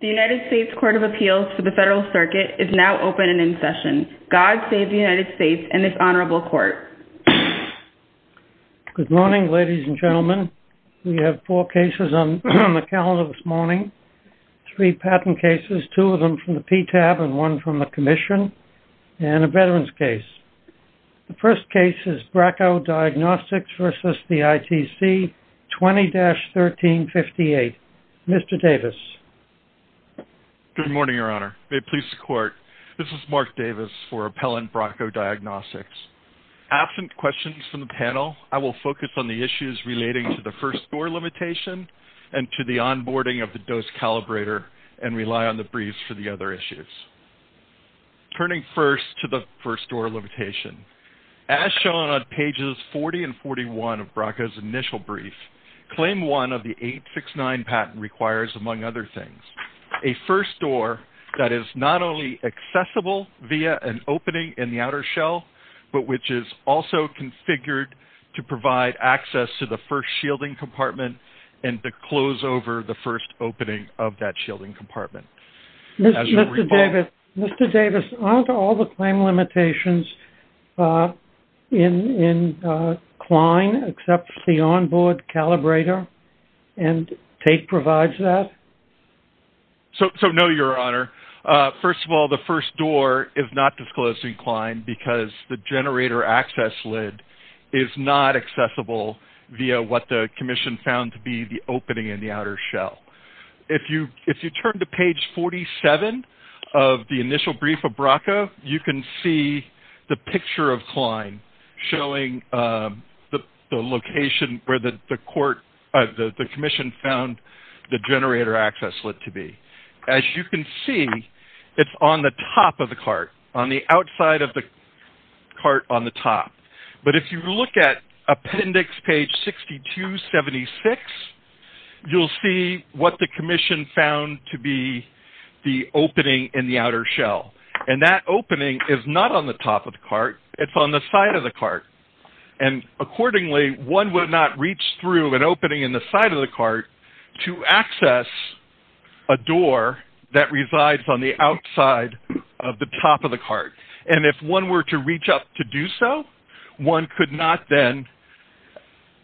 The United States Court of Appeals for the Federal Circuit is now open and in session. God save the United States and this Honorable Court. Good morning, ladies and gentlemen. We have four cases on the calendar this morning. Three patent cases, two of them from the PTAB and one from the Commission, and a Veterans case. The first case is Bracco Diagnostics v. ITC, 20-1358. Mr. Davis. Good morning, Your Honor. May it please the Court, this is Mark Davis for Appellant Bracco Diagnostics. Absent questions from the panel, I will focus on the issues relating to the first-door limitation and to the onboarding of the dose calibrator and rely on the briefs for the other issues. Turning first to the first-door limitation, as shown on pages 40 and 41 of Bracco's initial brief, Claim 1 of the 869 patent requires, among other things, a first-door that is not only accessible via an opening in the outer shell, but which is also configured to provide access to the first shielding compartment and to close over the first opening of that shielding compartment. Mr. Davis, aren't all the claim limitations in CLINE except the onboard calibrator? And Tait provides that? So, no, Your Honor. First of all, the first door is not disclosed in CLINE because the generator access lid is not accessible via what the Commission found to be the opening in the outer shell. If you turn to page 47 of the initial brief of Bracco, you can see the picture of CLINE showing the location where the Commission found the generator access lid to be. As you can see, it's on the top of the cart, on the outside of the cart on the top. But if you look at appendix page 6276, you'll see what the Commission found to be the opening in the outer shell. And that opening is not on the top of the cart. It's on the side of the cart. And accordingly, one would not reach through an opening in the side of the cart to access a door that resides on the outside of the top of the cart. And if one were to reach up to do so, one could not then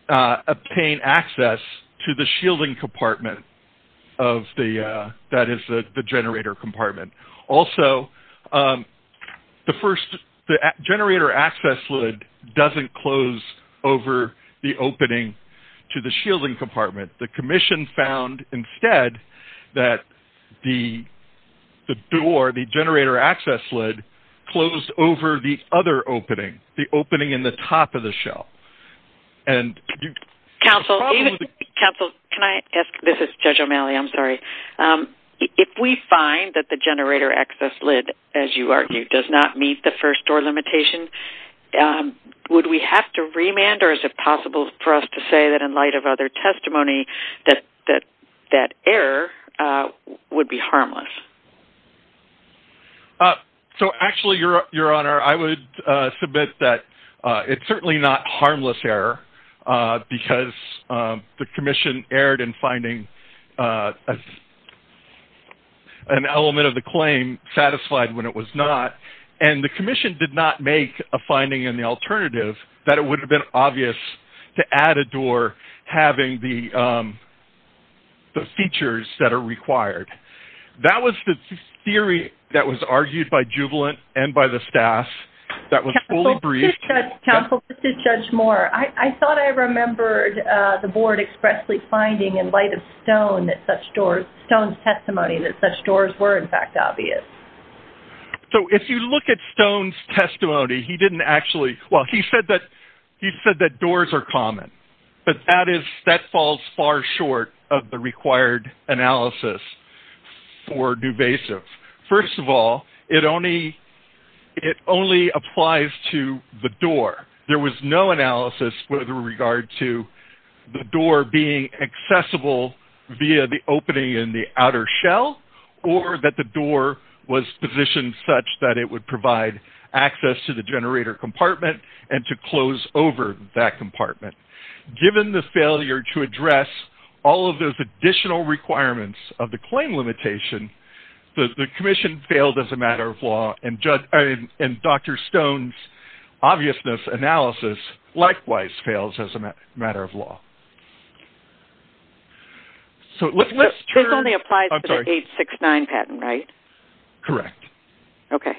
obtain access to the shielding compartment that is the generator compartment. Also, the first generator access lid doesn't close over the opening to the shielding compartment. The Commission found instead that the door, the generator access lid, closed over the other opening, the opening in the top of the shell. Counsel, can I ask? This is Judge O'Malley. I'm sorry. If we find that the generator access lid, as you argue, does not meet the first door limitation, would we have to remand? Or is it possible for us to say that in light of other testimony, that that error would be harmless? So actually, Your Honor, I would submit that it's certainly not harmless error because the Commission erred in finding an element of the claim satisfied when it was not. And the Commission did not make a finding in the alternative that it would have been obvious to add a door having the features that are required. That was the theory that was argued by Jubilant and by the staff that was fully briefed. Counsel, this is Judge Moore. I thought I remembered the Board expressly finding in light of Stone that such doors, Stone's testimony, that such doors were, in fact, obvious. So if you look at Stone's testimony, he didn't actually, well, he said that doors are common. But that falls far short of the required analysis for duvasive. First of all, it only applies to the door. There was no analysis with regard to the door being accessible via the opening in the outer shell, or that the door was positioned such that it would provide access to the door. Given the failure to address all of those additional requirements of the claim limitation, the Commission failed as a matter of law, and Dr. Stone's obviousness analysis likewise fails as a matter of law. This only applies to the 869 patent, right? Correct. Okay.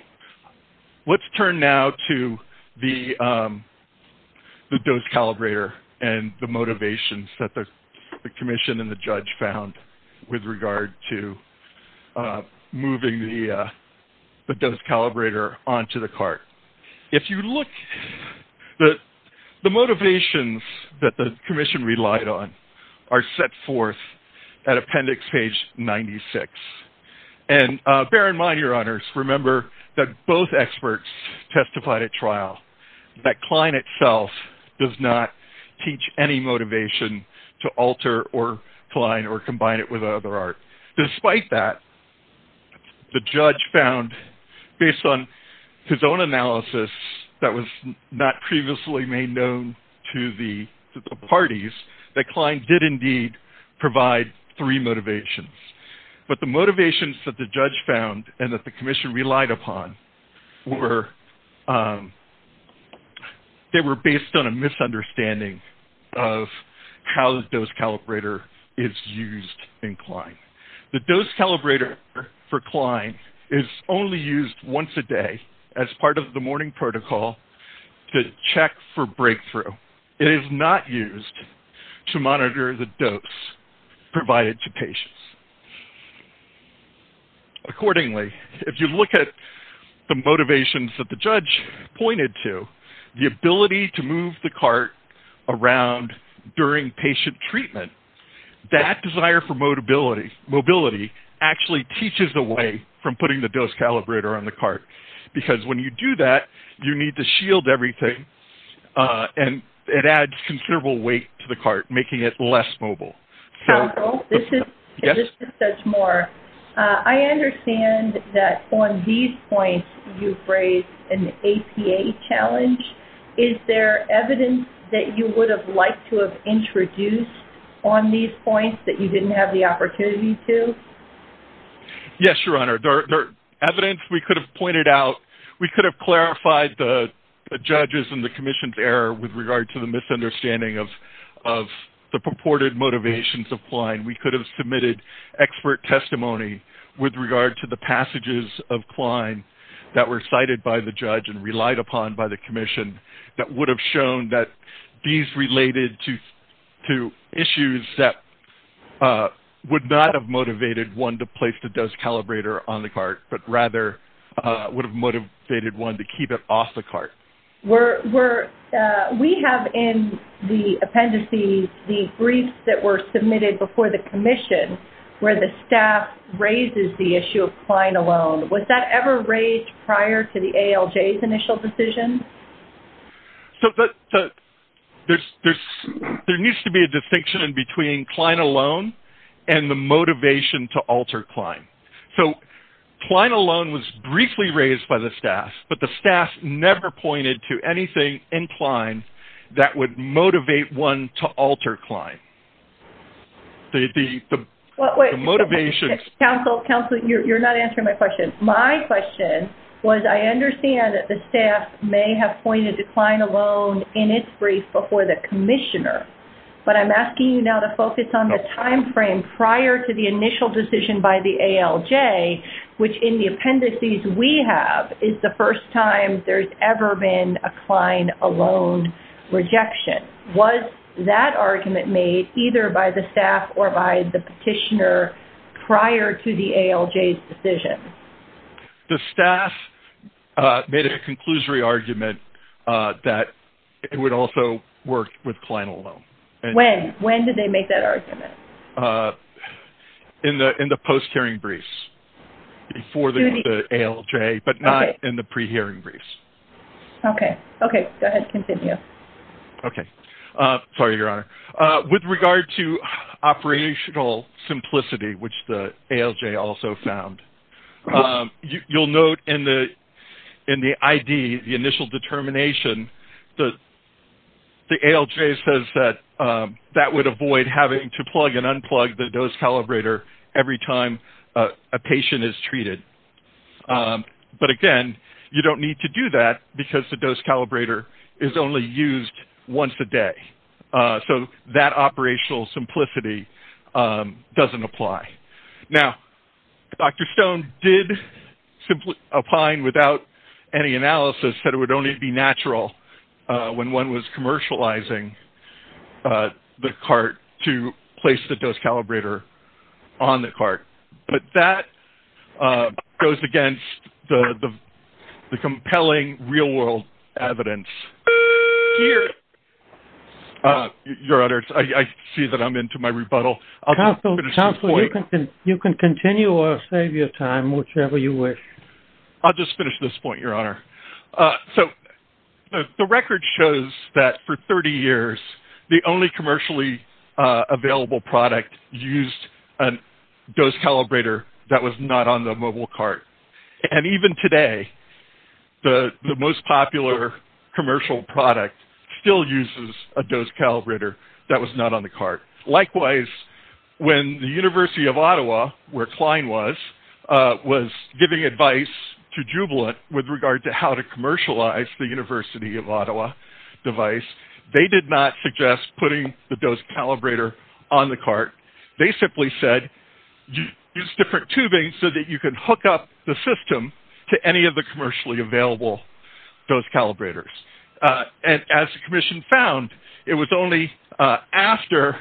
Let's turn now to the dose calibrator and the motivations that the Commission and the Judge found with regard to moving the dose calibrator onto the cart. If you look, the motivations that the Commission relied on are set forth at appendix page 96. And bear in mind, Your Honors, remember that both experts testified at trial that Klein itself does not teach any motivation to alter or combine it with other art. Despite that, the Judge found, based on his own analysis that was not previously made known to the parties, that Klein did indeed provide three motivations. But the motivations that the Judge found and that the Commission relied upon were based on a misunderstanding of how the dose calibrator is used in Klein. The dose calibrator for Klein is only used once a day as is not used to monitor the dose provided to patients. Accordingly, if you look at the motivations that the Judge pointed to, the ability to move the cart around during patient treatment, that desire for mobility actually teaches away from putting the dose calibrator on the cart, because when you do that, you need to shield everything. And it adds considerable weight to the cart, making it less mobile. Judge Moore, I understand that on these points you've raised an APA challenge. Is there evidence that you would have liked to have introduced on these points that you didn't have the opportunity to? Yes, Your Honor. There is evidence we could have pointed out. We could have clarified the Judge's and the Commission's error with regard to the misunderstanding of the purported motivations of Klein. We could have submitted expert testimony with regard to the passages of Klein that were cited by the Judge and relied upon by the Commission that would have shown that these related to issues that would not have motivated one to place the dose calibrator on the cart, but rather would have motivated one to keep it off the cart. We have in the appendices the briefs that were submitted before the Commission where the staff raises the issue of Klein alone. Was that ever raised prior to the ALJ's initial decision? There needs to be a distinction in between Klein alone and the motivation to alter Klein. Klein alone was briefly raised by the staff, but the staff never pointed to anything in Klein that would motivate one to alter Klein. Counsel, you're not answering my question. My question was I understand that the staff may have pointed to Klein alone in its brief before the Commissioner, but I'm asking you now to focus on the timeframe prior to the initial decision by the ALJ, which in the appendices we have is the first time there's ever been a Klein alone rejection. Was that argument made either by the staff or by the petitioner prior to the ALJ's decision? The staff made a conclusory argument that it would also work with Klein alone. When? When did they make that argument? In the post-hearing briefs before the ALJ, but not in the pre-hearing briefs. Sorry, Your Honor. With regard to operational simplicity, which the ALJ also found, you'll note in the ID, the initial determination, the ALJ says that that would avoid having to use a dose calibrator. But again, you don't need to do that because the dose calibrator is only used once a day. So that operational simplicity doesn't apply. Now, Dr. Stone did simply opine without any analysis that it would only be natural when one was commercializing the cart to place the dose calibrator on the cart. But that goes against the compelling real-world evidence. Your Honor, I see that I'm into my rebuttal. Counselor, you can continue or save your time, whichever you wish. I'll just finish this point, Your Honor. So the record shows that for 30 years, the only commercially available product used a dose calibrator that was not on the mobile cart. And even today, the most popular commercial product still uses a dose calibrator that was not on the cart. Likewise, when the University of Ottawa, where Klein was, was giving advice to Jubilant with regard to how to commercialize the University of Ottawa device, they did not suggest putting the dose calibrator on the cart. They simply said, use different tubing so that you can hook up the system to any of the commercially available dose calibrators. And as the Commission found, it was only after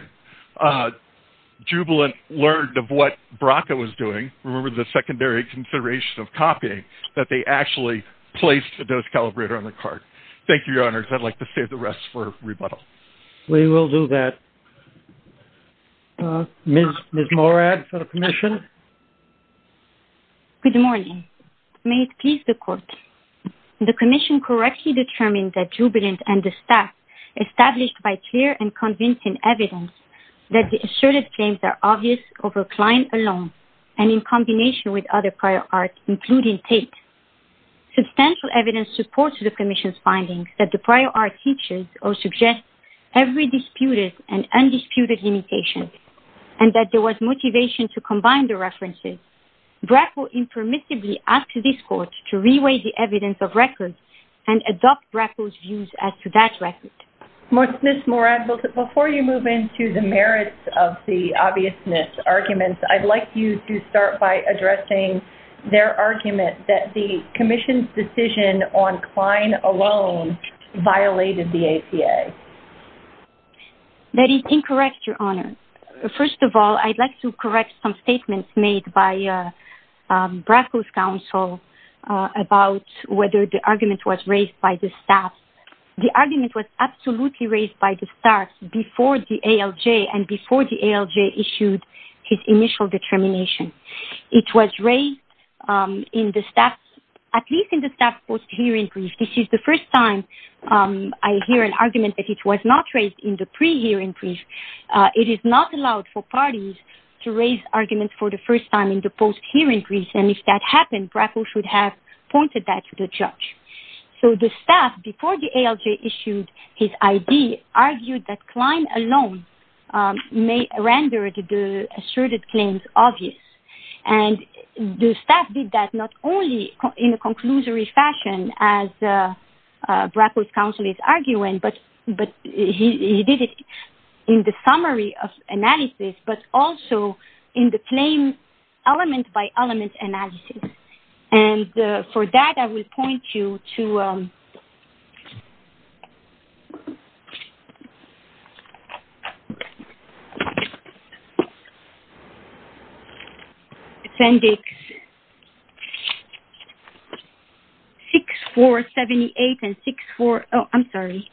Jubilant learned of what BRCA was doing, remember the secondary consideration of copying, that they actually placed the dose calibrator on the cart. Thank you, Your Honor. I'd like to save the rest for rebuttal. We will do that. Ms. Morad for the Commission. Good morning. May it please the Court, the Commission correctly determined that Jubilant and the staff established by clear and convincing evidence that the asserted claims are obvious over Klein alone, and in combination with other prior art, including Tate. Substantial evidence supports the Commission's findings that the prior art teaches or suggests every disputed and undisputed limitation, and that there was motivation to combine the references. BRAC will impermissibly ask this Court to reweigh the evidence of records and adopt BRAC's views as to that record. Ms. Morad, before you move into the merits of the obviousness arguments, I'd like you to start by addressing their argument that the Commission's decision on Klein alone violated the ACA. That is incorrect, Your Honor. First of all, I'd like to correct some statements made by BRAC's counsel about whether the argument was raised by the staff. The argument was absolutely raised by the staff before the ALJ and before the ALJ issued his initial determination. It was raised in the staff's post-hearing brief. This is the first time I hear an argument that it was not raised in the pre-hearing brief. It is not allowed for parties to raise arguments for the first time in the post-hearing brief, and if that happened, BRAC should have pointed that to the judge. So the staff, before the ALJ issued his ID, argued that Klein alone rendered the asserted claims obvious. And the staff did that not only in a conclusory fashion, as BRAC's counsel is arguing, but he did it in the summary of analysis, but also in the claim element-by-element analysis. And for that, I will point you to... Appendix 6478 and 64... Oh, I'm sorry.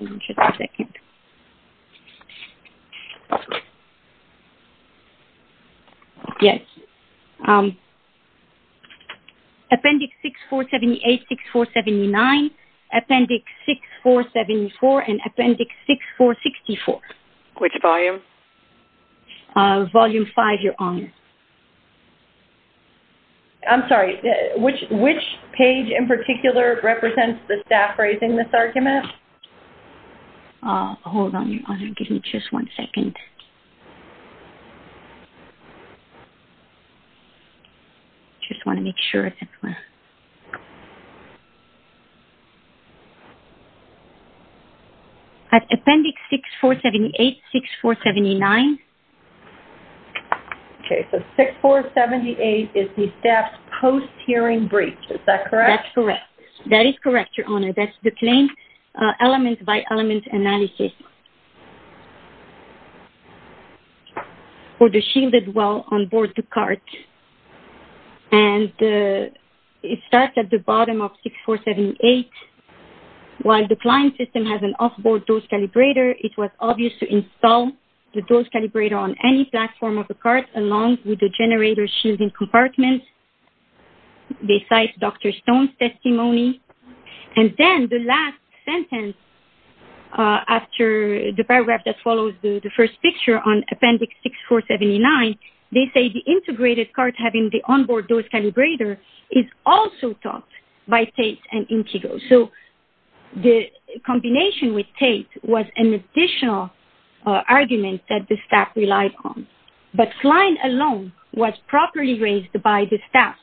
Just a second. Yes. Appendix 6478, 6479, Appendix 6474, and Appendix 6475, Your Honor. I'm sorry. Which page in particular represents the staff raising this argument? Hold on, Your Honor. Give me just one second. Just want to make sure. Okay. Appendix 6478, 6479. Okay. So 6478 is the staff's post-hearing brief. Is that correct? That's correct. That is correct, Your Honor. That's the claim element-by-element analysis. Okay. For the shielded well on board the cart. And it starts at the bottom of 6478. While the client system has an off-board dose calibrator, it was obvious to install the dose calibrator on any platform of the cart, along with the generator shielding compartment. They cite Dr. Stone's testimony. And then the last sentence after the paragraph that follows the first picture on Appendix 6479, they say the integrated cart having the on-board dose calibrator is also topped by Tait and Intego. So the combination with Tait was an additional argument that the staff relied on. But Klein alone was properly raised by the staff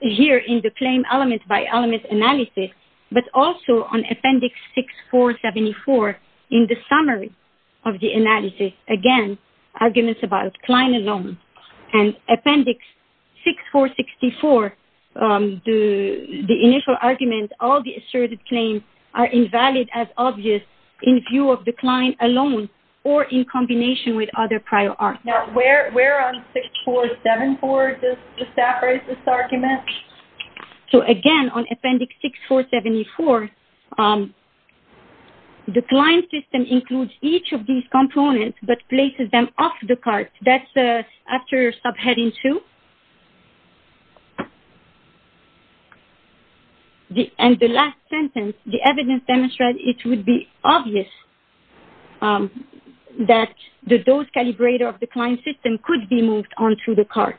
here in the claim element-by-element analysis, but also on Appendix 6474 in the summary of the analysis. Again, arguments about Klein alone. And Appendix 6464, the initial argument, all the asserted claims are invalid as obvious in view of the Klein alone or in combination with other prior arguments. Now where on 6474 does the staff raise this argument? So again, on Appendix 6474, the client system includes each of these components, but places them off the cart. That's after subheading 2. And the last sentence, the evidence demonstrates it would be obvious that the dose calibrator of the client system could be moved on to the cart.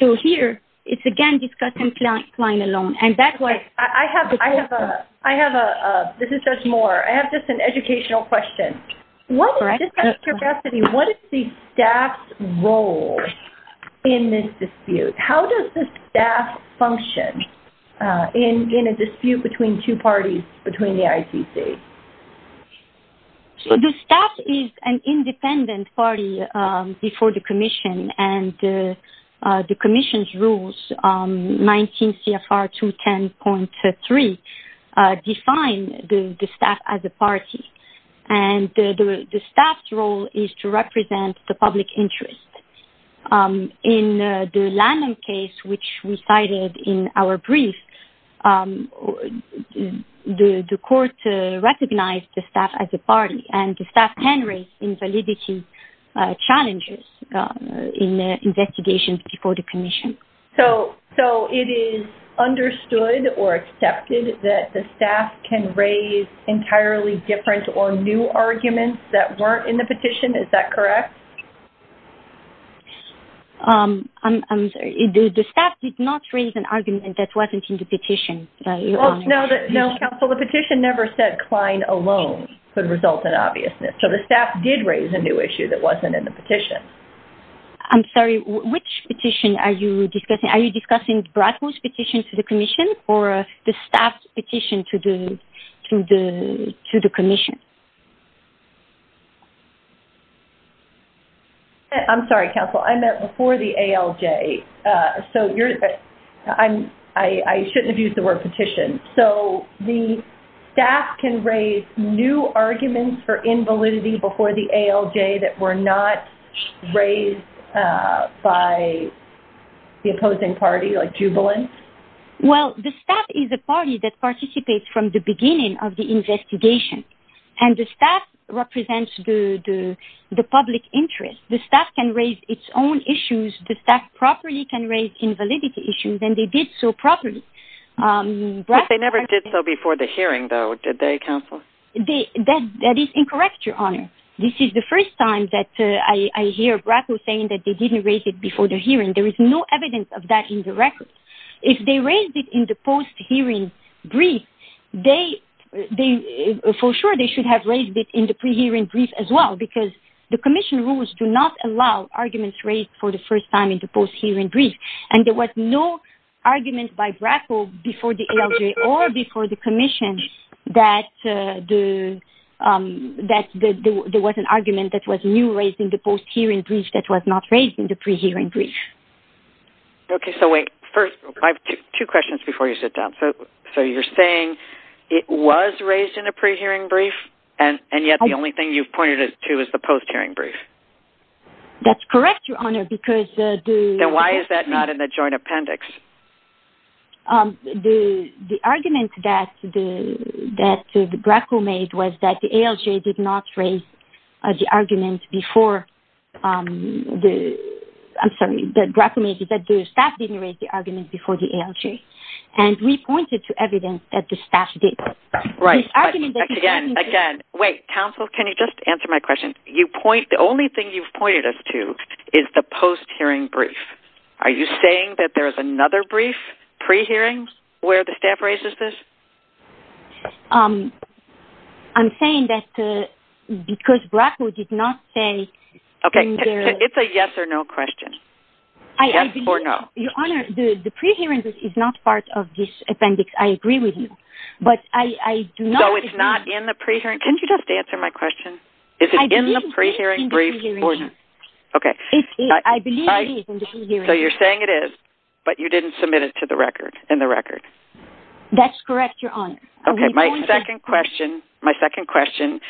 So here, it's again discussing Klein alone. And that's why- I have a-this is just more-I have just an educational question. Just out of curiosity, what is the staff's role in this dispute? How does the staff function in a dispute between two parties, between the ITC? The staff is an independent party before the commission, and the commission's rules, 19 CFR 210.3, define the staff as a party. And the staff's role is to represent the public interest. In the Lanham case, which we cited in our brief, the court recognized the staff as a party, and the staff can raise invalidity challenges in investigations before the commission. So it is understood or accepted that the staff can raise entirely different or new arguments that weren't in the petition? Is that correct? The staff did not raise an argument that wasn't in the petition. No, counsel, the petition never said Klein alone could result in obviousness. So the staff did raise an argument that was a new issue that wasn't in the petition. I'm sorry, which petition are you discussing? Are you discussing Bradford's petition to the commission, or the staff's petition to the commission? I'm sorry, counsel. I meant before the ALJ. So I shouldn't have used the word petition. So the staff can raise new arguments for invalidity before the ALJ that were not raised by the opposing party, like Jubilant? Well, the staff is a party that participates from the beginning of the investigation, and the staff represents the public interest. The staff can raise its own issues. The staff properly can raise invalidity issues, and they did so properly. But they never did so before the hearing, though, did they, counsel? That is incorrect, Your Honor. This is the first time that I hear Bradford saying that they didn't raise it before the hearing. There is no evidence of that in the record. If they raised it in the post-hearing brief, for sure they should have raised it in the pre-hearing brief as well, because the commission rules do not allow arguments raised for the first time in the post-hearing brief. And there was no argument by Bradford before the ALJ or before the commission that there was an argument that was new raised in the post-hearing brief that was not raised in the pre-hearing brief. Okay, so wait. First, I have two questions before you sit down. So you're saying it was raised in the pre-hearing brief, and yet the only thing you've pointed to is the post-hearing brief? That's correct, Your Honor. Then why is that not in the joint appendix? The argument that BRACO made was that the ALJ did not raise the argument before the ALJ. And we pointed to evidence that the staff did. Right. Again, wait. Counsel, can you just answer my question? The only thing you've pointed us to is the post-hearing brief. Are you saying that there is another brief, pre-hearing, where the staff raises this? I'm saying that because BRACO did not say... Okay, it's a yes or no question. Yes or no? Your Honor, the pre-hearing brief is not part of this appendix. I agree with you. But I do not... So it's not in the pre-hearing... Can you just answer my question? Is it in the pre-hearing brief or not? I believe it is in the pre-hearing brief. That's correct, Your Honor. My second question,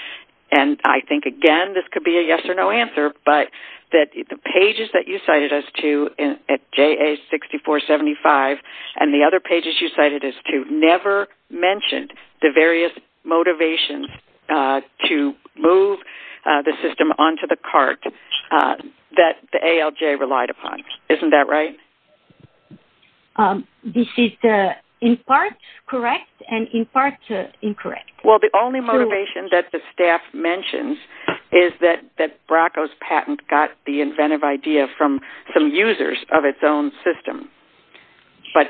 and I think, again, this could be a yes or no answer, but the pages that you cited us to at JA-6475 and the other pages you cited us to never mentioned the various motivations to move the system onto the cart that the ALJ relied upon. Isn't that right? This is in part correct and in part incorrect. Well, the only motivation that the staff mentions is that BRACO's patent got the inventive idea from some users of its own system. But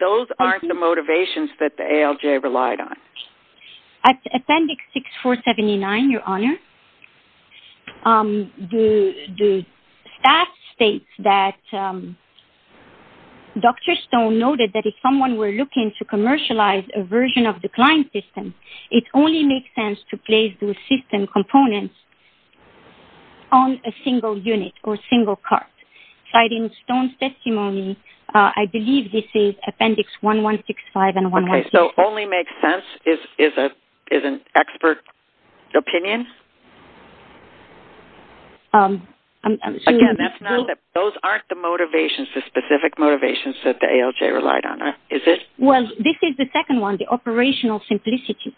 those aren't the motivations that the ALJ relied on. At appendix 6479, Your Honor, the staff states that Dr. Stone noted that if someone were looking to commercialize a version of the client system, it only makes sense to place the system components on a single unit or single cart. Citing Stone's testimony, I believe this is appendix 1165 and 1166. Okay, so only makes sense is an expert opinion? Again, those aren't the motivations, the specific motivations that the ALJ relied on, is it? Well, this is the second one, the operational simplicity,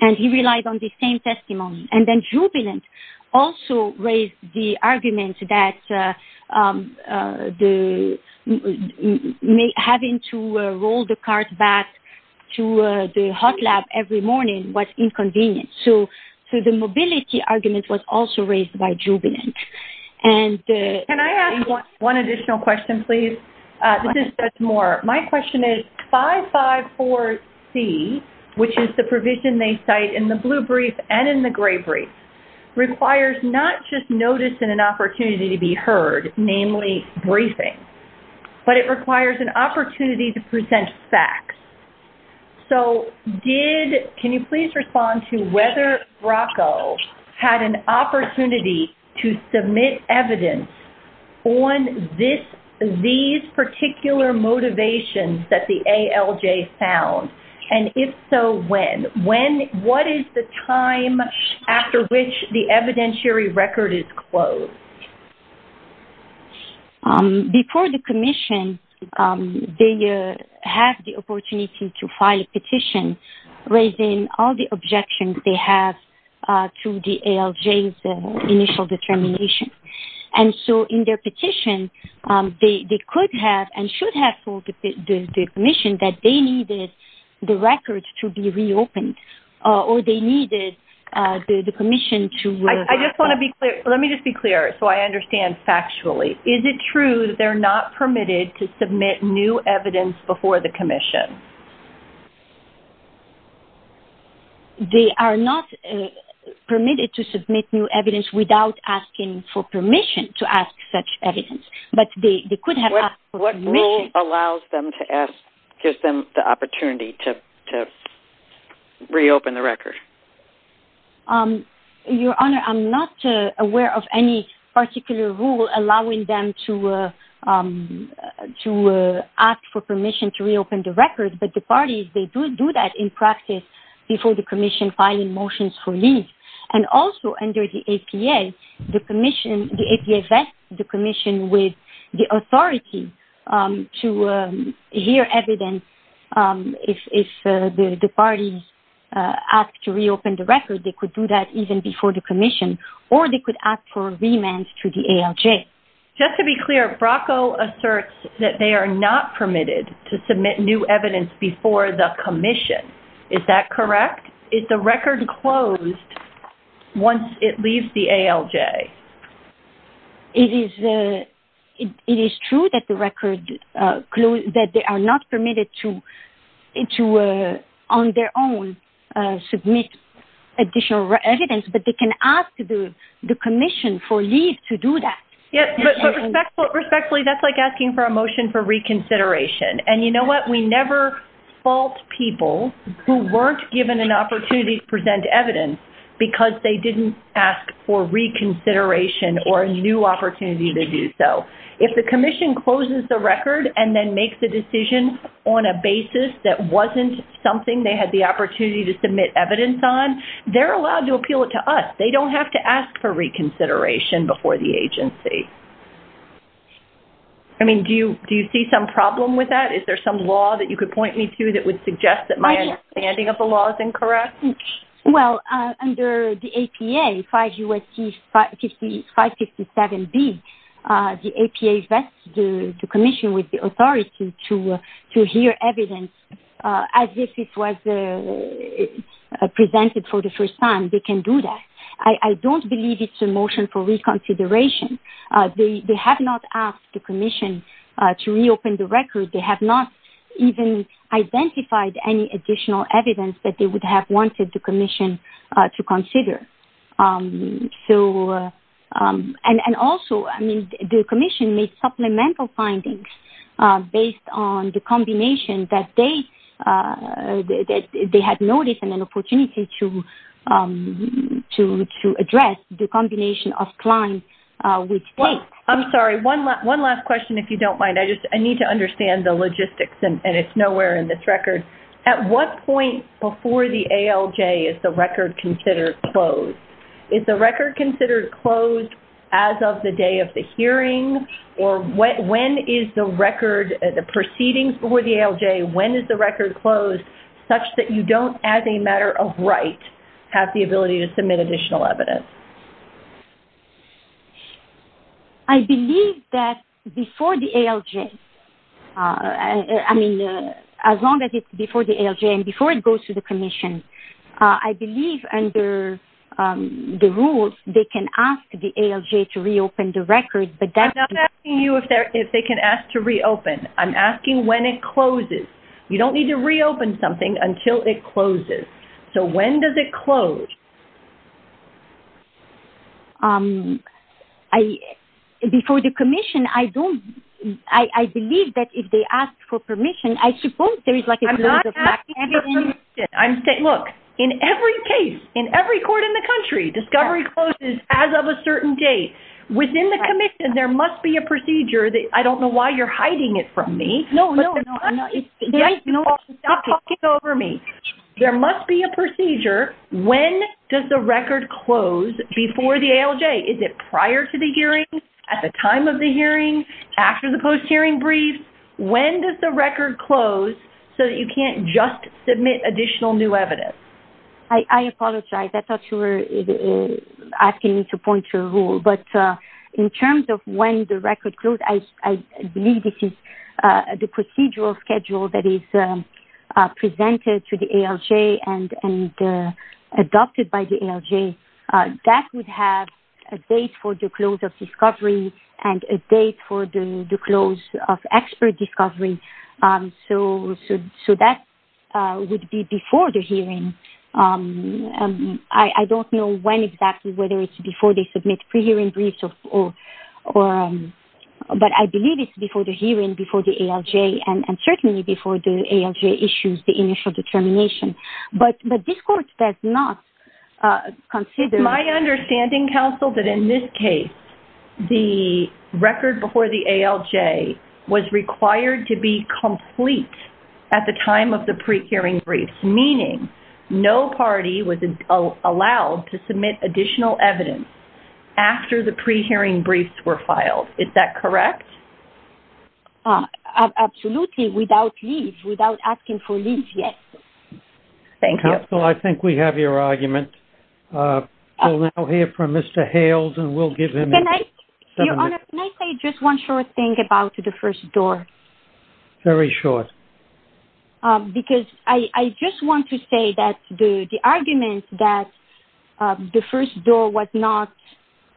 and he relied on the same testimony. And then Jubilant also raised the argument that having to roll the cart back to the hot lab every morning was inconvenient. So the mobility argument was also raised by Jubilant. Can I ask one additional question, please? This is Judge Moore. My question is 554C, which is the provision they cite in the blue brief and in the gray brief, requires not just notice and an opportunity to be heard, namely briefing, but it requires an opportunity to present facts. So can you please respond to whether BRACO had an opportunity to submit evidence on these particular motivations that the ALJ found? And if so, when? What is the time after which the evidentiary record is closed? Before the commission, they have the opportunity to file a petition raising all the objections they have to the ALJ's initial determination. And so in their petition, they could have and should have told the commission that they needed the record to be reopened, or they needed the commission to- I just want to be clear. Let me just be clear so I understand factually. Is it true that they're not permitted to submit new evidence before the commission? They are not permitted to submit new evidence without asking for permission to ask such evidence. But they could have- What rule allows them to ask-gives them the opportunity to reopen the record? Your Honor, I'm not aware of any particular rule allowing them to ask for permission to reopen the record. But the parties, they do do that in practice before the commission filing motions for leave. And also under the APA, the commission- the APA vests the commission with the authority to hear evidence. If the parties ask to reopen the record, they could do that even before the commission, or they could ask for remand to the ALJ. Just to be clear, Bracco asserts that they are not permitted to submit new evidence before the commission. Is that correct? Is the record closed once it leaves the ALJ? It is true that the record-that they are not permitted to on their own submit additional evidence, but they can ask the commission for leave to do that. Respectfully, that's like asking for a motion for reconsideration. And you know what? We never fault people who weren't given an opportunity to present evidence because they didn't ask for reconsideration or a new opportunity to do so. If the commission closes the record and then makes a decision on a basis that wasn't something they had the opportunity to submit evidence on, they're allowed to appeal it to us. They don't have to ask for reconsideration before the agency. I mean, do you see some problem with that? Is there some law that you could point me to that would suggest that my understanding of the law is incorrect? Well, under the APA, 5 U.S.C. 557 B, the APA vests the commission with the authority to hear evidence as if it was presented for the first time. They can do that. I don't believe it's a motion for reconsideration. They have not asked the commission to reopen the record. They have not even identified any additional evidence that they would have wanted the commission to consider. And also, I mean, the commission made supplemental findings based on the combination that they had noticed and an opportunity to address the combination of the two. I don't understand the logistics, and it's nowhere in this record. At what point before the ALJ is the record considered closed? Is the record considered closed as of the day of the hearing, or when is the record, the proceedings before the ALJ, when is the record closed such that you don't, as a matter of right, have the ability to submit additional evidence? I believe that before the ALJ, I mean, as long as it's before the ALJ and before it goes to the commission, I believe under the rules, they can ask the ALJ to reopen the record. I'm not asking you if they can ask to reopen. I'm asking when it closes. You don't need to reopen something until it closes. So when does it close? Before the commission, I believe that if they ask for permission, I suppose there is like a brief case in every court in the country, discovery closes as of a certain date. Within the commission, there must be a procedure. I don't know why you're hiding it from me. There must be a procedure. When does the record close before the ALJ? Is it prior to the hearing, at the time of the hearing, after the post-hearing brief? When does the record close so that you can't just submit additional new evidence? I apologize. I thought you were asking me to point to a rule. But in terms of when the record close, I believe this is the procedural schedule that is presented to the ALJ and adopted by the ALJ. That would have a date for the close of discovery and a date for the close of expert discovery. So that would be before the hearing. I don't know when exactly, whether it's before they submit pre-hearing briefs but I believe it's before the hearing, before the ALJ and certainly before the ALJ issues the initial determination. My understanding, Counsel, that in this case, the record before the ALJ was required to be complete at the time of the pre-hearing briefs, meaning no party was allowed to submit additional evidence after the pre-hearing briefs were filed. Is that correct? Absolutely, without leave, without asking for leave yet. Counsel, I think we have your argument. We'll now hear from Mr. Hales and we'll give him seven minutes. Can I say just one short thing about the first door? Very short. Because I just want to say that the argument that the first door was not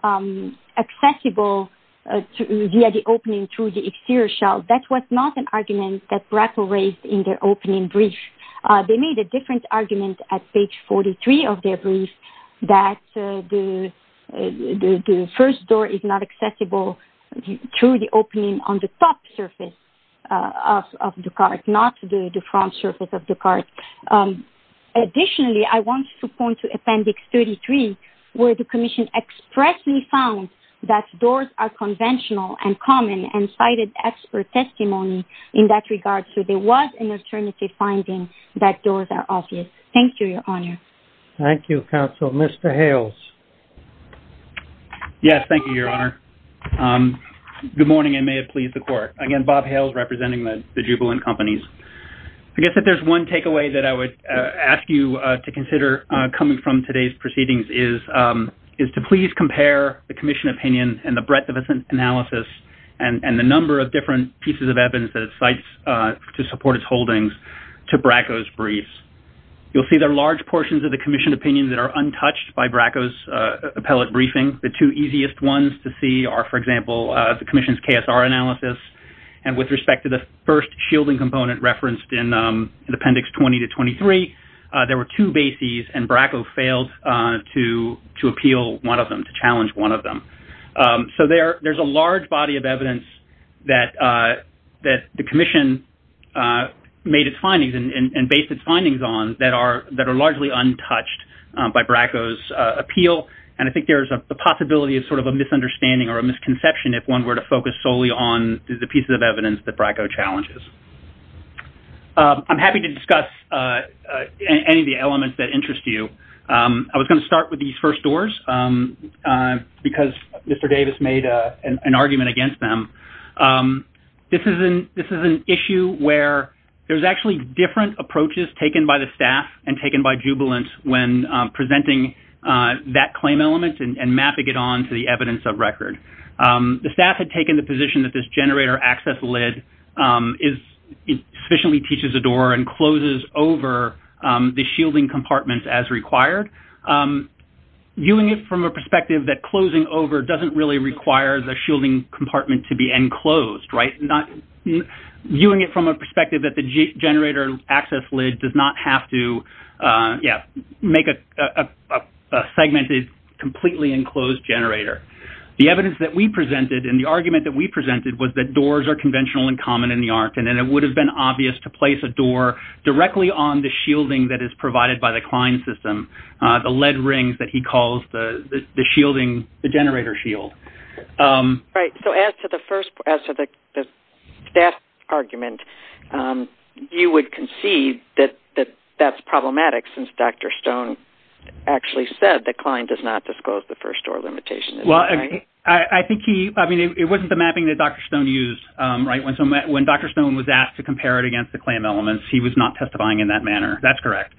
accessible via the opening through the exterior shell, that was not an argument that BRACO raised in their opening brief. They made a different argument at page 43 of their brief that the first door is not accessible through the opening on the top surface of the cart, not through the front surface of the cart. Additionally, I want to point to appendix 33 where the Commission expressly found that doors are conventional and common and cited expert testimony in that regard. So there was an alternative finding that doors are obvious. Thank you, Your Honor. Thank you, Counsel. Mr. Hales. Yes, thank you, Your Honor. Good morning. I may have pleased the court. Again, Bob Hales representing the Jubilant Companies. I guess if there's one takeaway that I would ask you to consider coming from today's proceedings is to please compare the Commission opinion and the breadth of its analysis and the number of different pieces of evidence that it cites to support its holdings to BRACO's briefs. You'll see there are large portions of the Commission opinion that are untouched by BRACO's appellate briefing. The two easiest ones to see are, for example, the Commission's KSR analysis. And with respect to the first shielding component referenced in appendix 20 to 23, there were two bases and BRACO failed to appeal one of them, to challenge one of them. So there's a large body of evidence that the Commission made its findings and based its findings on that are largely untouched by BRACO's appeal. And I think there is a possibility of sort of a misunderstanding or a misconception if one were to focus solely on the pieces of evidence that BRACO challenges. I'm happy to discuss any of the elements that interest you. I was going to start with these first doors because Mr. Davis made an argument against them. This is an issue where there's actually different approaches taken by the staff and taken by jubilant when presenting that claim element and mapping it on to the evidence of record. The staff had taken the position that this generator access lid efficiently teaches a door and closes over the shielding compartments as required. Viewing it from a perspective that closing over doesn't really require the shielding compartment to be enclosed, right? Viewing it from a perspective that the generator access lid does not have to make a segmented, completely enclosed generator. The evidence that we presented and the argument that we presented was that doors are conventional and common in the art and it would have been obvious to place a door directly on the shielding that is provided by the client system, the lead rings that he calls the shielding, the generator shield. As to the staff argument, you would concede that that's problematic since Dr. Stone actually said that. It wasn't the mapping that Dr. Stone used. When Dr. Stone was asked to compare it against the claim elements, he was not testifying in that manner. That's correct.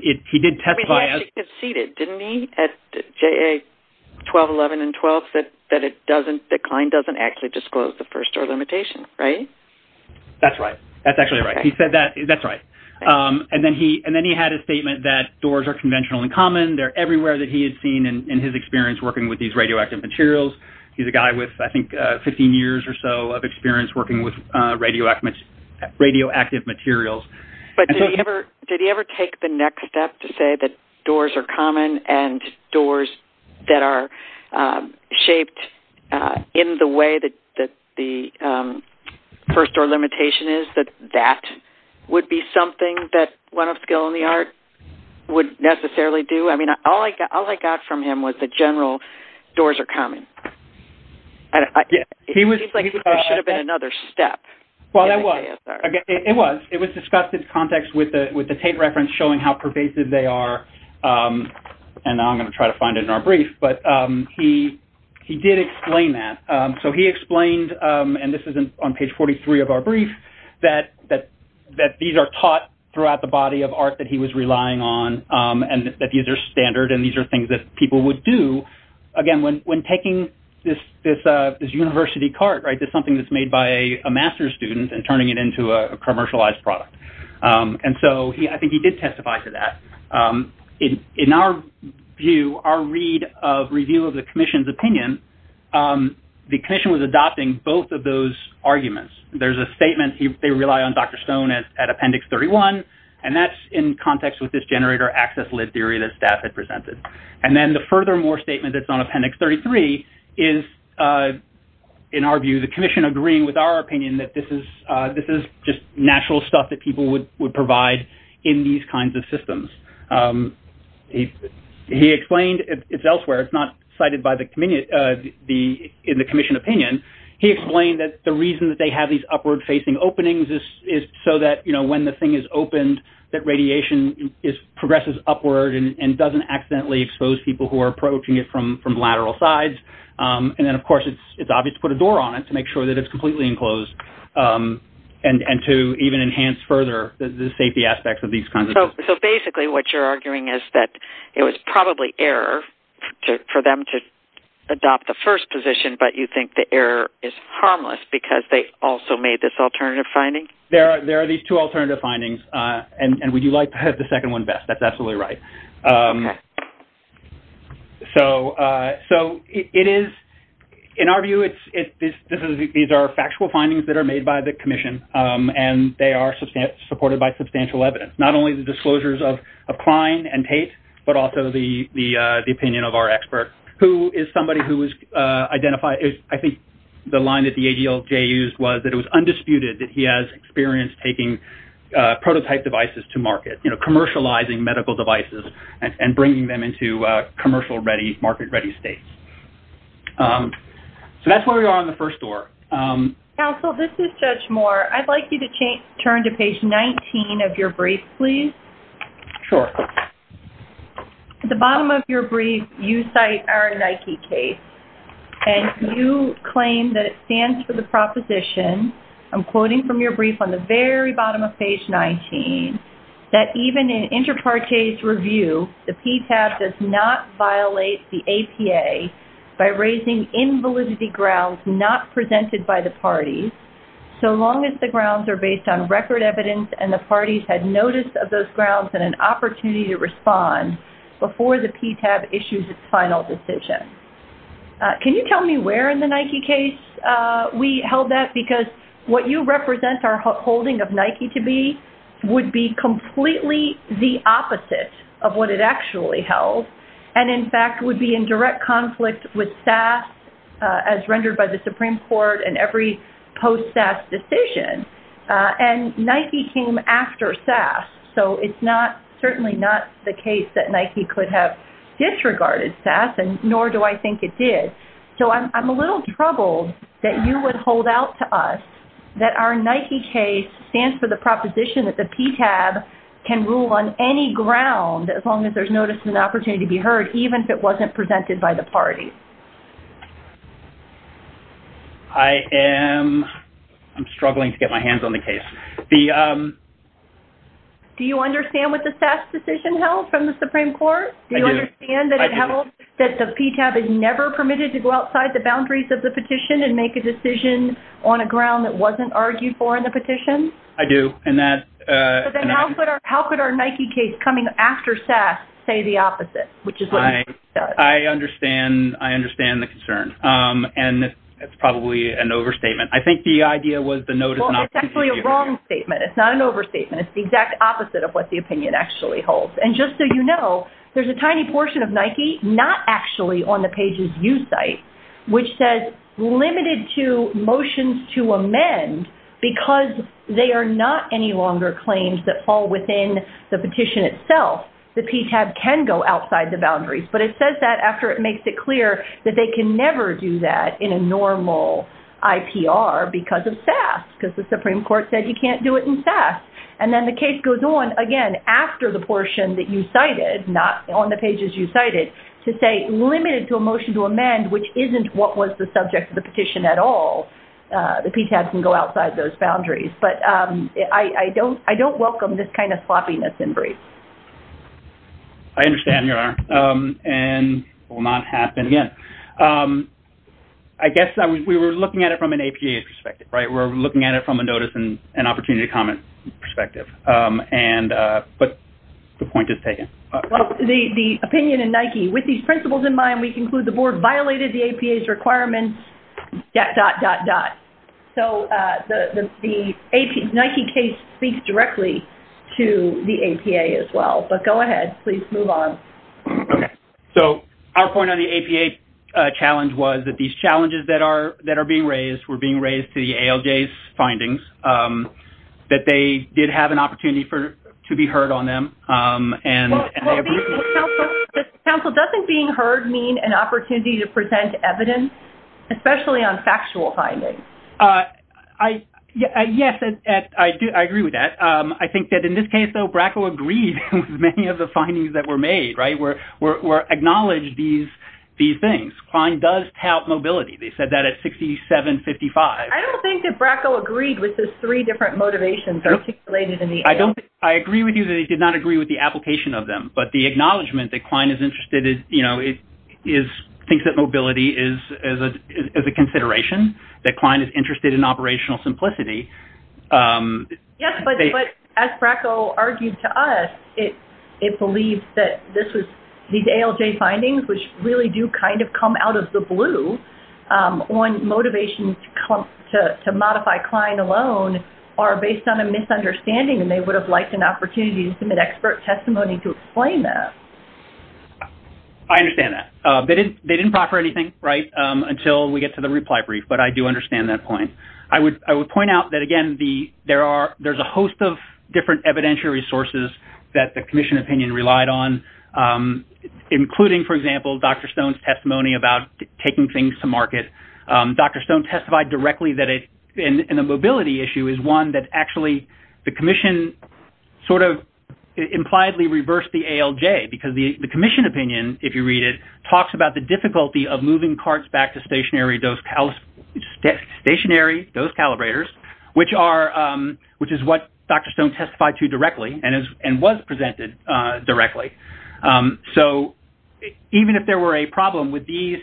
He conceded, didn't he, at JA 1211 and 12 that the client doesn't actually disclose the first door limitation, right? That's right. That's actually right. He said that. That's right. Then he had a statement that doors are conventional and common. They're everywhere that he had seen in his experience working with these radioactive materials. He's a guy with, I think, 15 years or so of experience working with radioactive materials. Did he ever take the next step to say that doors are common and doors that are shaped in the way that the first door limitation is, that that would be something that one of skill in the art would necessarily do? I mean, all I got from him was that general doors are common. It seems like there should have been another step. It was. It was discussed in context with the tape reference showing how pervasive they are. Now I'm going to try to find it in our brief. He did explain that. He explained, and this is on page 43 of our brief, that these are taught throughout the body of art that he was relying on and that these are standard and these are things that people would do. Again, when when taking this university card, right, that's something that's made by a master's student and turning it into a commercialized product. And so I think he did testify to that. In our view, our read of review of the commission's opinion, the commission was adopting both of those arguments. There's a statement. They rely on Dr. Stone at Appendix 31. And that's in context with this generator access theory that staff had presented. And then the furthermore statement that's on Appendix 33 is, in our view, the commission agreeing with our opinion that this is this is just natural stuff that people would would provide in these kinds of systems. He he explained it's elsewhere. It's not cited by the committee. The in the commission opinion, he explained that the reason that they have these upward facing openings is so that, you know, when the thing is opened, that radiation is progresses upward and doesn't accidentally expose people who are approaching it from from lateral sides. And then, of course, it's it's obvious to put a door on it to make sure that it's completely enclosed and to even enhance further the safety aspects of these kinds. So basically, what you're arguing is that it was probably error for them to adopt the first position, but you think the error is harmless because they also made this alternative finding. There are there are these two alternative findings. And would you like to have the second one best? That's absolutely right. So so it is in our view, it's it's this is these are factual findings that are made by the commission and they are supported by substantial evidence, not only by the commission, but also the the opinion of our expert, who is somebody who was identified. I think the line that the ADLJ used was that it was undisputed that he has experience taking prototype devices to market, commercializing medical devices and bringing them into commercial ready market ready states. So that's where we are on the first door. Counsel, this is Judge Moore. I'd like you to change turn to page 19 of your brief, please. At the bottom of your brief, you cite our Nike case and you claim that it stands for the proposition, I'm quoting from your brief on the very bottom of page 19, that even in inter partes review, the PTAB does not violate the APA by raising invalidity grounds not presented by the parties, so long as the grounds are based on record evidence and the parties had notice of those grounds and an opportunity to respond before the PTAB issues its final decision. Can you tell me where in the Nike case we held that? Because what you represent our holding of Nike to be would be completely the opposite of what it actually held and in fact would be in direct conflict with SAS as rendered by the Supreme Court and every post SAS decision. And Nike came after SAS, so it's not certainly not the case that Nike could have disregarded SAS and nor do I think it did. So I'm a little troubled that you would hold out to us that our ground, as long as there's notice and opportunity to be heard, even if it wasn't presented by the parties. I am struggling to get my hands on the case. Do you understand what the SAS decision held from the Supreme Court? Do you understand that it held that the PTAB is never permitted to go outside the boundaries of the petition and make a decision on a ground that wasn't argued for on the petition? I do. How could our Nike case coming after SAS say the opposite? I understand the concern and it's probably an overstatement. I think the idea was the notice and opportunity to be heard. It's actually a wrong statement. It's not an overstatement. It's the exact opposite of what the opinion actually holds. And just so you know, there's a tiny portion of Nike not actually on the pages you cite which says limited to motions to amend because they are not any longer claims that fall within the petition itself. The PTAB can go outside the boundaries. But it says that after it makes it clear that they can never do that in a normal IPR because of SAS because the Supreme Court said you can't do it in SAS. And then the case goes on again after the portion that you cite isn't what was the subject of the petition at all. The PTAB can go outside those boundaries. But I don't welcome this kind of sloppiness in briefs. I understand, Your Honor. And it will not happen again. I guess we were looking at it from an APA perspective, right? We're looking at it from a notice and opportunity to comment perspective. But the point is taken. The opinion in Nike, with these principles in mind, we conclude the board violated the APA's requirements, dot, dot, dot, dot. So the Nike case speaks directly to the APA as well. But go ahead. Please move on. So our point on the APA challenge was that these challenges that are being raised were being raised to the ALJ's findings that they did have an opportunity for to be heard on them. And the council doesn't being heard mean an opportunity to present evidence, especially on factual findings. Yes, I do. I agree with that. I think that in this case, though, Bracco agreed with many of the findings that were made, right, were acknowledged these things. Kline does tout mobility. They said that at 6755. I don't think that Bracco agreed with the three different motivations articulated in the ALJ. I agree with you that he did not agree with the application of them. But the acknowledgement that Kline is interested in mobility is a consideration, that Kline is interested in operational simplicity. Yes, but as Bracco argued to us, it believes that these ALJ findings, which really do kind of come out of the blue on motivation to modify Kline alone, are based on a misunderstanding. And they would have liked an opportunity to submit expert testimony to explain that. I understand that. They didn't proffer anything, right, until we get to the reply brief. But I do understand that point. I would agree with the commission opinion relied on, including, for example, Dr. Stone's testimony about taking things to market. Dr. Stone testified directly that a mobility issue is one that actually the commission sort of impliedly reversed the ALJ, because the commission opinion, if you read it, talks about the difficulty of moving carts back to stationary dose calibrators, which is what Dr. Stone testified to directly and was presented directly. So even if there were a problem with these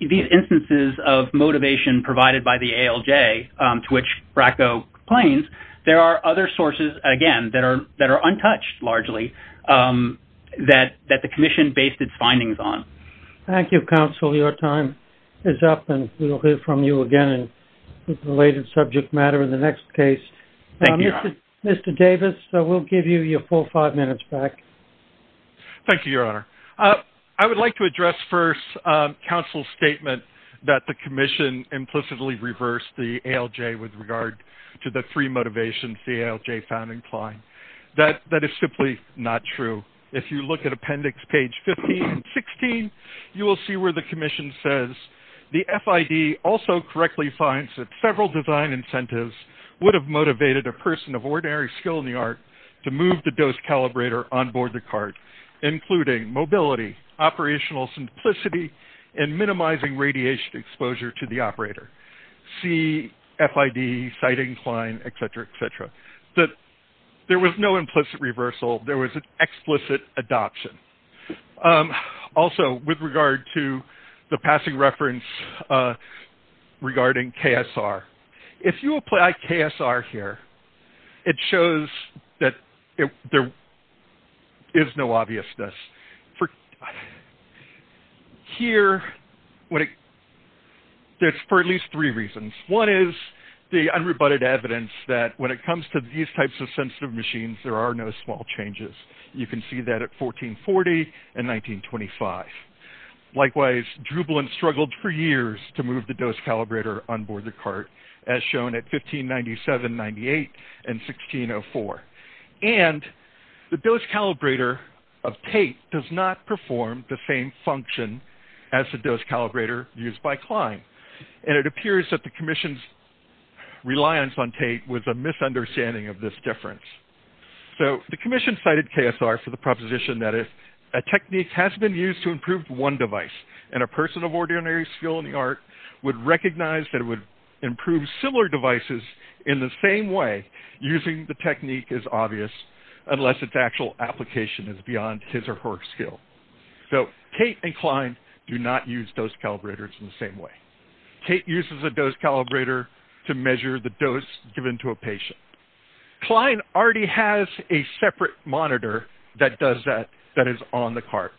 instances of motivation provided by the ALJ, to which Bracco complains, there are other sources, again, that are untouched, largely, that the commission based its findings on. Thank you, counsel. Your time is up. And we'll hear from you again in the related subject matter in the next case. Mr. Davis, we'll give you your full five minutes back. Thank you, Your Honor. I would like to address first counsel's statement that the commission implicitly reversed the ALJ with regard to the free motivation ALJ found inclined. That is simply not true. If you look at appendix page 15 and 16, you will see where the commission says the FID also correctly finds that several design incentives would have motivated a person of ordinary skill in the art to move the dose calibrator onboard the cart, including mobility, operational simplicity, and minimizing radiation exposure to the operator. C, FID, sight inclined, et cetera, et cetera. There was no implicit reversal. There was an explicit adoption. Also, with regard to the passing reference regarding KSR, if you apply KSR here, it shows that there is no obviousness. Here, it's for at least three reasons. One is the unrebutted evidence that when it comes to these types of sensitive machines, there are no small changes. You can see that at 1440 and 1925. Likewise, Drubalin struggled for years to move the dose calibrator onboard the cart, as shown at 1597, 98, and 99. It did not perform the same function as the dose calibrator used by Klein. And it appears that the commission's reliance on Tait was a misunderstanding of this difference. So the commission cited KSR for the proposition that a technique has been used to improve one device, and a person of ordinary skill in the art would recognize that it would improve similar devices in the same way using the technique is obvious, unless its actual application is beyond his or her skill. So Tait and Klein do not use dose calibrators in the same way. Tait uses a dose calibrator to measure the dose given to a patient. Klein already has a separate monitor that does that, that is on the cart.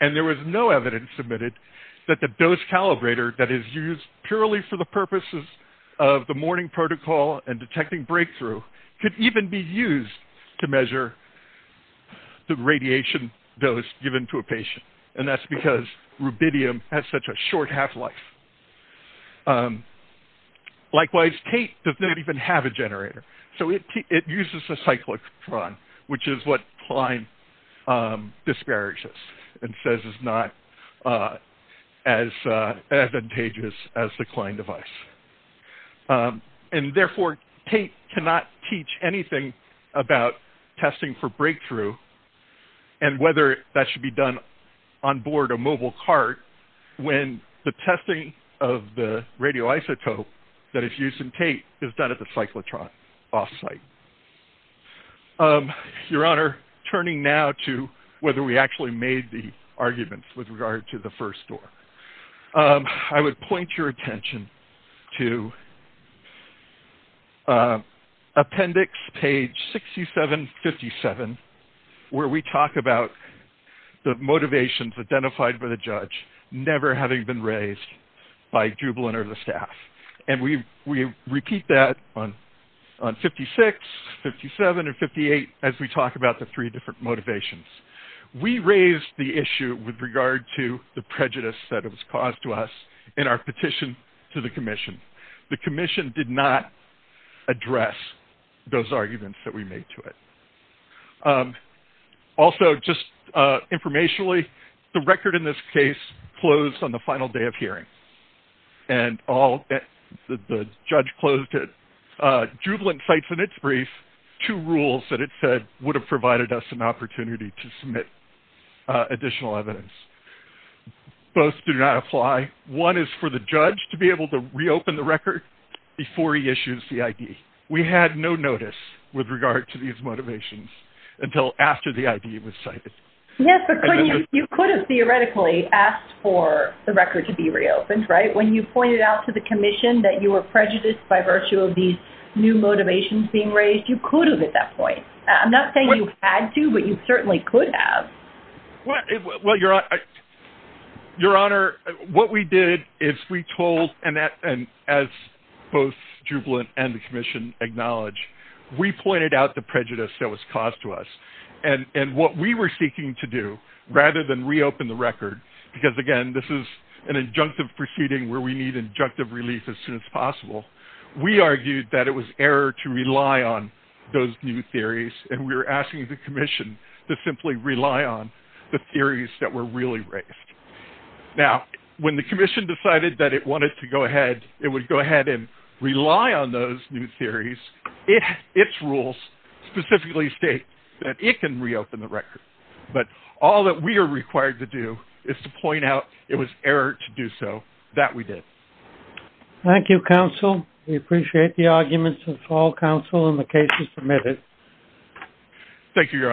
And there was no evidence submitted that the dose calibrator that KSR threw could even be used to measure the radiation dose given to a patient. And that's because rubidium has such a short half-life. Likewise, Tait does not even have a generator. So it uses a cyclotron, which is what Klein disparages and says is not as useful. So we cannot teach anything about testing for breakthrough and whether that should be done on board a mobile cart when the testing of the radioisotope that is used in Tait is done at the cyclotron off-site. Your Honor, turning now to whether we actually made the arguments with regard to the first door. I would point your attention to appendix page 6757 where we talk about the motivations identified by the judge never having been raised by Jubal and or the staff. And we repeat that on 56, 57, and 58 as we talk about the three different motivations. We raised the issue with regard to the prejudice that it was caused to us in our petition to the commission. The commission did not address those arguments that we made to it. Also, just informationally, the record in this case closed on the final day of hearing. And the judge closed on the final day of hearing. And we did not address those arguments that we made to it. Jubal and cites in its brief two rules that it said would have provided us an opportunity to submit additional evidence. Both do not apply. One is for the judge to be able to reopen the record before he issues the ID. We had no notice with regard to these motivations until after the hearing. I'm not saying you had to, but you certainly could have. Your Honor, what we did is we told, and as both Jubal and the commission acknowledge, we pointed out the prejudice that was caused to us. And what we were seeking to do, rather than reopen the record, because again, this is an injunctive proceeding where we need injunctive relief as soon as possible. We argued that it was error to rely on those new theories. And we were asking the commission to simply rely on the theories that were really raised. Now, when the commission decided that it wanted to go ahead, it would go ahead and rely on those new theories. Its rules specifically state that it can reopen the record. But all that we are required to do is to point out it was error to do so. That we did. Thank you, Counsel. We appreciate the arguments of all counsel in the cases submitted. Thank you, Your Honors.